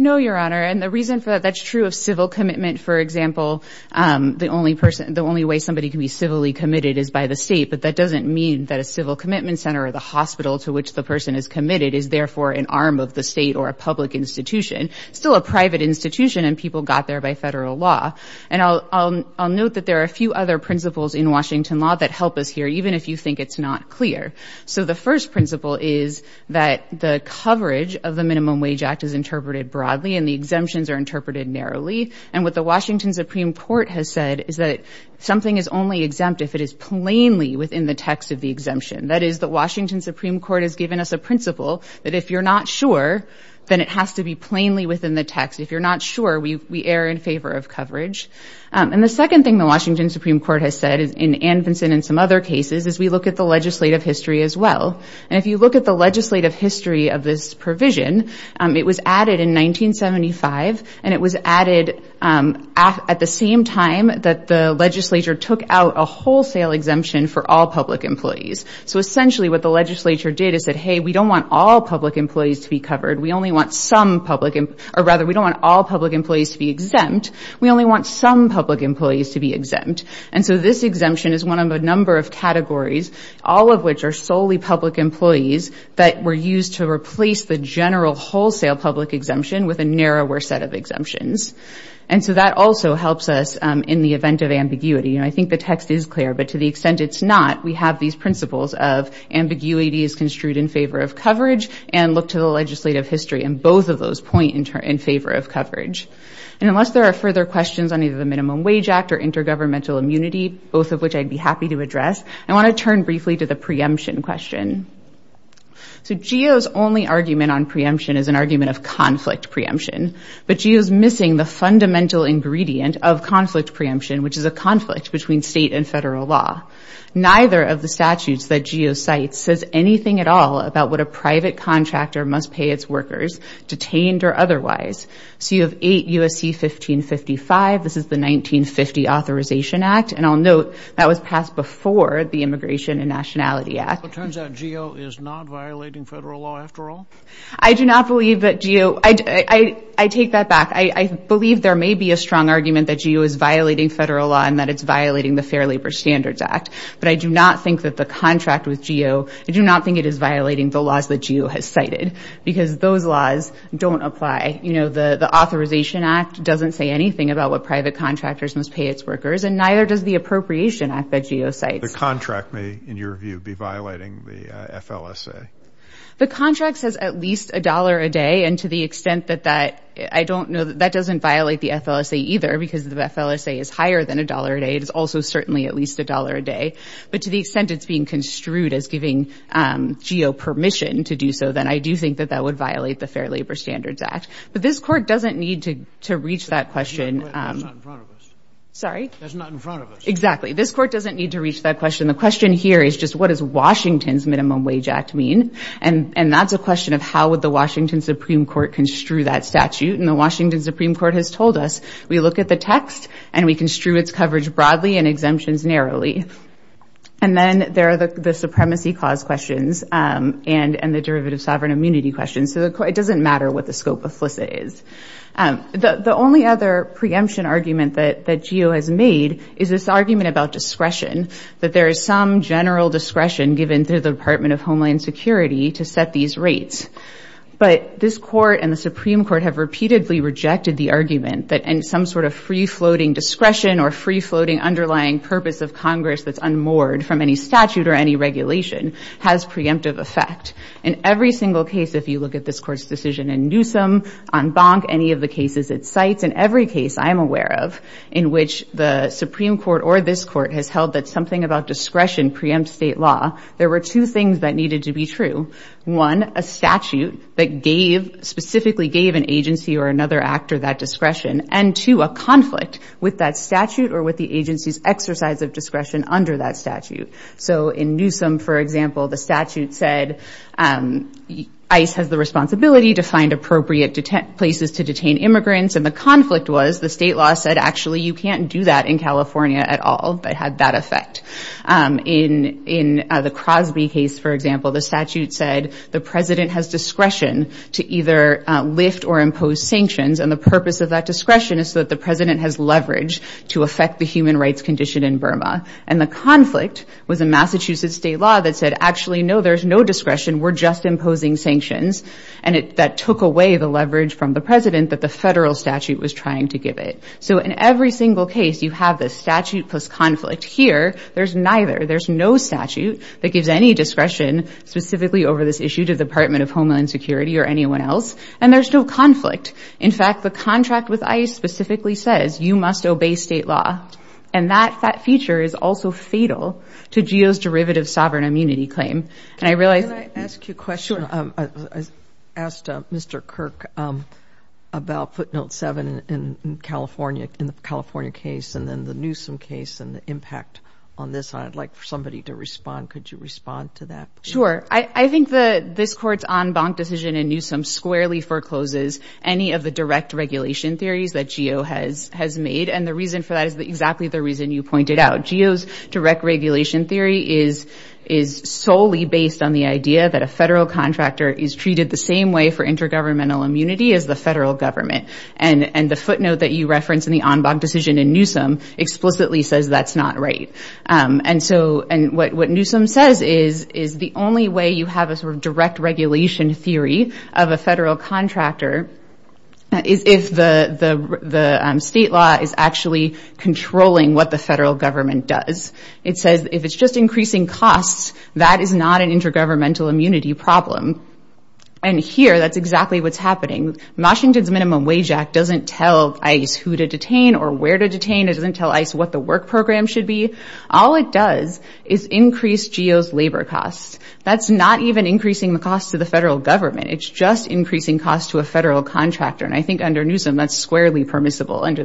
No, Your Honor. And the reason for that, that's true of civil commitment. For example, the only way somebody can be civilly committed is by the state. But that doesn't mean that a civil commitment center or the hospital to which the person is committed is, therefore, an arm of the state or a public institution. Still a private institution, and people got there by federal law. And I'll note that there are a few other principles in Washington law that help us here, even if you think it's not clear. So the first principle is that the coverage of the Minimum Wage Act is interpreted broadly, and the exemptions are interpreted narrowly. And what the Washington Supreme Court has said is that something is only exempt if it is plainly within the text of the exemption. That is, the Washington Supreme Court has given us a principle that if you're not sure, then it has to be plainly within the text. If you're not sure, we err in favor of coverage. And the second thing the Washington Supreme Court has said in Anvinson and some other cases is we look at the legislative history as well. And if you look at the legislative history of this provision, it was added in 1975. And it was added at the same time that the legislature took out a wholesale exemption for all public employees. So essentially what the legislature did is said, hey, we don't want all public employees to be covered. We only want some public, or rather, we don't want all public employees to be exempt. We only want some public employees to be exempt. And so this exemption is one of a number of categories, all of which are solely public employees that were used to replace the general wholesale public exemption with a narrower set of exemptions. I think the text is clear, but to the extent it's not, we have these principles of ambiguity is construed in favor of coverage and look to the legislative history and both of those point in favor of coverage. And unless there are further questions on either the Minimum Wage Act or intergovernmental immunity both of which I'd be happy to address, I want to turn briefly to the preemption question. So GEO's only argument on preemption is an argument of conflict preemption. But GEO's missing the fundamental ingredient of conflict preemption, which is a conflict between state and federal law. Neither of the statutes that GEO cites says anything at all about what a private contractor must pay its workers, detained or otherwise. So you have 8 U.S.C. 1555, this is the 1950 Authorization Act, and I'll note that was passed before the Immigration and Nationality Act. It turns out GEO is not violating federal law after all? I do not believe that GEO, I take that back. I believe there may be a strong argument that GEO is violating federal law and that it's violating the Fair Labor Standards Act. But I do not think that the contract with GEO, I do not think it is violating the laws that GEO has cited because those laws don't apply. You know, the Authorization Act doesn't say anything about what private contractors must pay its workers and neither does the Appropriation Act that GEO cites. The contract may, in your view, be violating the FLSA. The contract says at least a dollar a day and to the extent that that, I don't know that that doesn't violate the FLSA either because the FLSA is higher than a dollar a day. It is also certainly at least a dollar a day. But to the extent it's being construed as giving GEO permission to do so, then I do think that that would violate the Fair Labor Standards Act. But this court doesn't need to reach that question. That's not in front of us. Sorry? That's not in front of us. Exactly, this court doesn't need to reach that question. The question here is just what does Washington's Minimum Wage Act mean? And that's a question of how would the Washington Supreme Court construe that statute? And the Washington Supreme Court has told us we look at the text and we construe its coverage broadly and exemptions narrowly. And then there are the supremacy cause questions and the derivative sovereign immunity questions. So it doesn't matter what the scope of FLSA is. The only other preemption argument that GEO has made is this argument about discretion, that there is some general discretion given through the Department of Homeland Security to set these rates. But this court and the Supreme Court have repeatedly rejected the argument that some sort of free-floating discretion or free-floating underlying purpose of Congress that's unmoored from any statute or any regulation has preemptive effect. In every single case, if you look at this court's decision in Newsom, on Bonk, any of the cases it cites, in every case I'm aware of in which the Supreme Court or this court has held that something about discretion preempts state law, there were two things that needed to be true. One, a statute that specifically gave an agency or another actor that discretion. And two, a conflict with that statute or with the agency's exercise of discretion under that statute. So in Newsom, for example, the statute said, ICE has the responsibility to find appropriate places to detain immigrants. And the conflict was the state law said, actually, you can't do that in California at all, but had that effect. In the Crosby case, for example, the statute said the president has discretion to either lift or impose sanctions. And the purpose of that discretion is so that the president has leverage to affect the human rights condition in Burma. And the conflict was a Massachusetts state law that said, actually, no, there's no discretion. We're just imposing sanctions. And that took away the leverage from the president that the federal statute was trying to give it. So in every single case, you have the statute plus conflict. Here, there's neither. There's no statute that gives any discretion specifically over this issue to the Department of Homeland Security or anyone else. And there's no conflict. In fact, the contract with ICE specifically says, you must obey state law. And that feature is also fatal to GEO's derivative sovereign immunity claim. And I realized- Can I ask you a question? Sure. I asked Mr. Kirk about footnote seven in California, in the California case, and then the Newsom case and the impact on this. I'd like for somebody to respond. Could you respond to that? Sure. I think this court's en banc decision in Newsom squarely forecloses any of the direct regulation theories that GEO has made. And the reason for that is exactly the reason you pointed out. GEO's direct regulation theory is solely based on the idea that a federal contractor is treated the same way for intergovernmental immunity as the federal government. And the footnote that you referenced in the en banc decision in Newsom explicitly says that's not right. And so, and what Newsom says is, is the only way you have a sort of direct regulation theory of a federal contractor is if the state law is actually controlling what the federal government does. It says, if it's just increasing costs, that is not an intergovernmental immunity problem. And here, that's exactly what's happening. doesn't tell ICE who to detain or where to detain. It doesn't tell ICE what the work program should be. All it does is increase GEO's labor costs. That's not even increasing the costs to the federal government. It's just increasing costs to a federal contractor. And I think under Newsom, that's squarely permissible under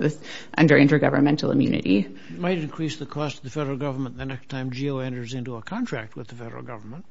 intergovernmental immunity. It might increase the cost of the federal government the next time GEO enters into a contract with the federal government.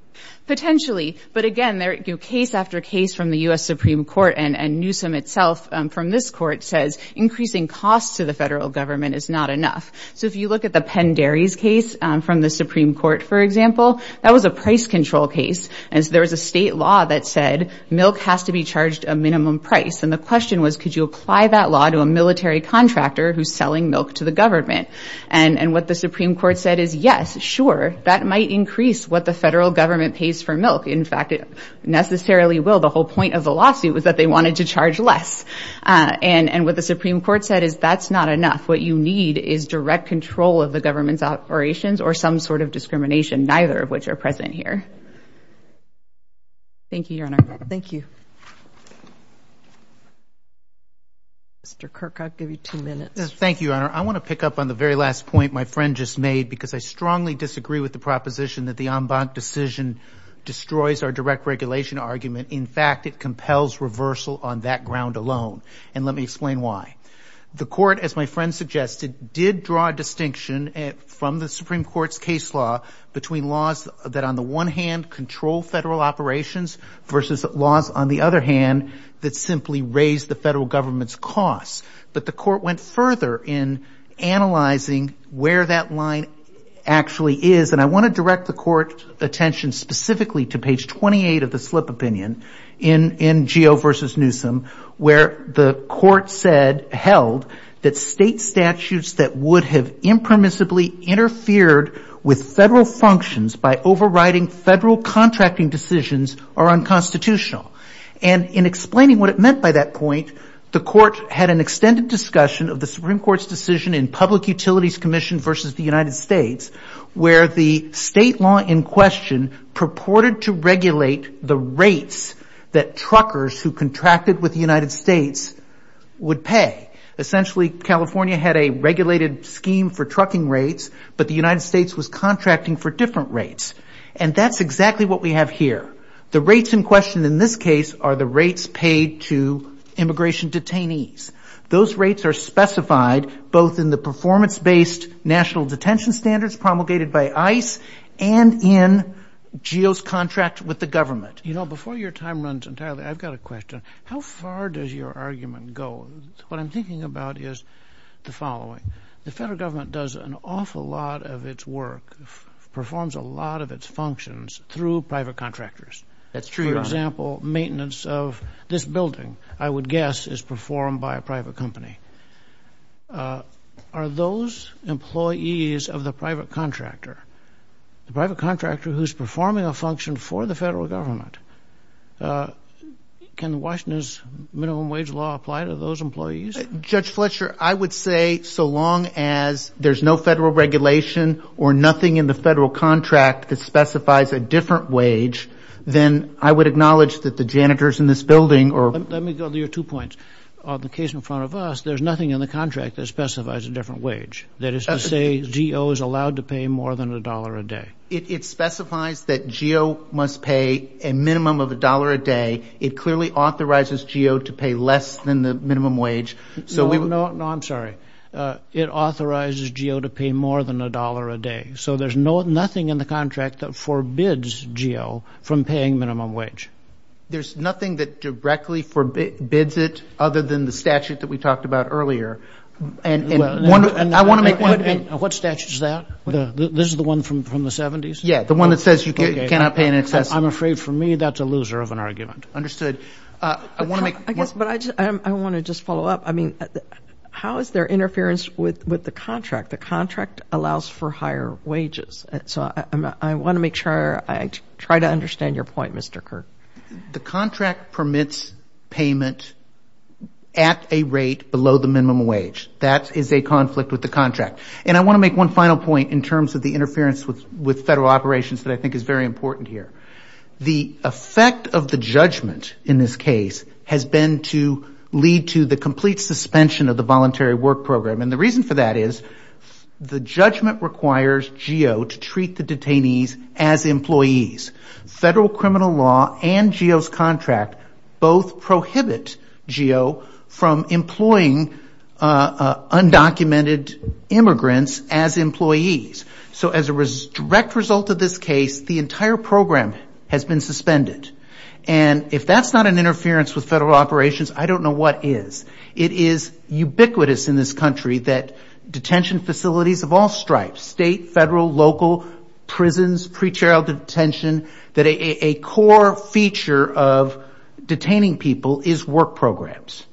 Potentially, but again, case after case from the U.S. Supreme Court and Newsom itself from this court says, increasing costs to the federal government is not enough. So if you look at the Penn Dairies case from the Supreme Court, for example, that was a price control case. And so there was a state law that said milk has to be charged a minimum price. And the question was, could you apply that law to a military contractor who's selling milk to the government? And what the Supreme Court said is, yes, sure. That might increase what the federal government pays for milk. In fact, it necessarily will. The whole point of the lawsuit was that they wanted to charge less. And what the Supreme Court said is, that's not enough. What you need is direct control of the government's operations or some sort of discrimination, neither of which are present here. Thank you, Your Honor. Thank you. Mr. Kirk, I'll give you two minutes. Thank you, Your Honor. I want to pick up on the very last point my friend just made, because I strongly disagree with the proposition that the en banc decision destroys our direct regulation argument. In fact, it compels reversal on that ground alone. And let me explain why. The court, as my friend suggested, did draw a distinction from the Supreme Court's case law between laws that on the one hand control federal operations versus laws on the other hand that simply raise the federal government's costs. But the court went further in analyzing where that line actually is. And I want to direct the court's attention specifically to page 28 of the slip opinion in Geo v. Newsom, where the court said, held, that state statutes that would have impermissibly interfered with federal functions by overriding federal contracting decisions are unconstitutional. And in explaining what it meant by that point, the court had an extended discussion of the Supreme Court's decision in Public Utilities Commission versus the United States, where the state law in question purported to regulate the rates that truckers who contracted with the United States would pay. Essentially, California had a regulated scheme for trucking rates, but the United States was contracting for different rates. And that's exactly what we have here. The rates in question in this case are the rates paid to immigration detainees. Those rates are specified both in the performance-based national detention standards promulgated by ICE and in Geo's contract with the government. You know, before your time runs entirely, I've got a question. How far does your argument go? What I'm thinking about is the following. The federal government does an awful lot of its work, performs a lot of its functions through private contractors. That's true, Your Honor. For example, maintenance of this building, I would guess, is performed by a private company. Are those employees of the private contractor, the private contractor who's performing a function for the federal government, can Washington's minimum wage law apply to those employees? Judge Fletcher, I would say so long as there's no federal regulation or nothing in the federal contract that specifies a different wage, then I would acknowledge that the janitors in this building or... Let me go to your two points. On the case in front of us, there's nothing in the contract that specifies a different wage. That is to say, Geo is allowed to pay more than a dollar a day. It specifies that Geo must pay a minimum of a dollar a day. It clearly authorizes Geo to pay less than the minimum wage. So we... No, I'm sorry. It authorizes Geo to pay more than a dollar a day. So there's nothing in the contract that forbids Geo from paying minimum wage. There's nothing that directly forbids it other than the statute that we talked about earlier. And I want to make one... What statute is that? This is the one from the 70s? Yeah, the one that says you cannot pay in excess. I'm afraid for me, that's a loser of an argument. Understood. I want to make... I guess, but I want to just follow up. I mean, how is there interference with the contract? The contract allows for higher wages. So I want to make sure I try to understand your point, Mr. Kirk. The contract permits payment at a rate below the minimum wage. That is a conflict with the contract. And I want to make one final point in terms of the interference with federal operations that I think is very important here. The effect of the judgment in this case has been to lead to the complete suspension of the voluntary work program. And the reason for that is the judgment requires Geo to treat the detainees as employees. Federal criminal law and Geo's contract both prohibit Geo from employing undocumented immigrants as employees. So as a direct result of this case, the entire program has been suspended. And if that's not an interference with federal operations, I don't know what is. It is ubiquitous in this country that detention facilities of all stripes, state, federal, local, prisons, pre-trial detention, that a core feature of detaining people is work programs.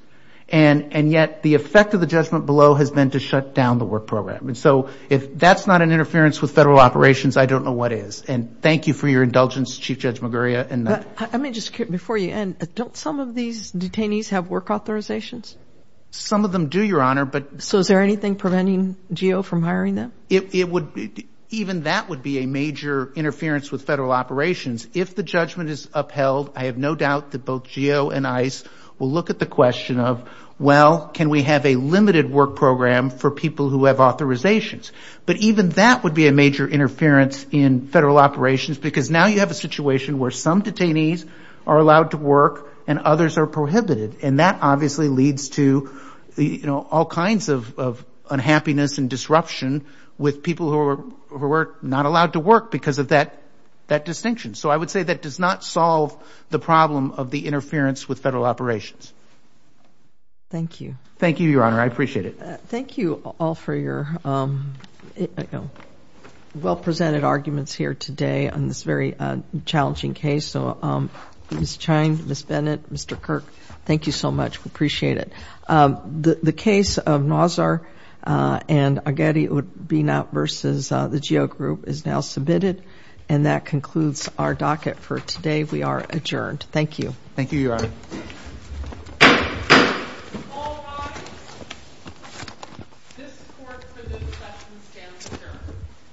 And yet the effect of the judgment below has been to shut down the work program. And so if that's not an interference with federal operations, I don't know what is. And thank you for your indulgence, Chief Judge Maguria. I mean, just before you end, don't some of these detainees have work authorizations? Some of them do, Your Honor, but- So is there anything preventing Geo from hiring them? Even that would be a major interference with federal operations. If the judgment is upheld, I have no doubt that both Geo and ICE will look at the question of, well, can we have a limited work program for people who have authorizations? But even that would be a major interference in federal operations because now you have a situation where some detainees are allowed to work and others are prohibited. And that obviously leads to all kinds of unhappiness and disruption with people who are not allowed to work because of that distinction. So I would say that does not solve the problem of the interference with federal operations. Thank you. Thank you, Your Honor. I appreciate it. Thank you all for your well-presented arguments here today on this very challenging case. So Ms. Cheyne, Ms. Bennett, Mr. Kirk, thank you so much. We appreciate it. The case of Nazar and Aghedi Ud-Binab versus the Geo Group is now submitted. And that concludes our docket for today. We are adjourned. Thank you. Thank you, Your Honor. Thank you. Thank you. All rise. This court for the discussion stands adjourned.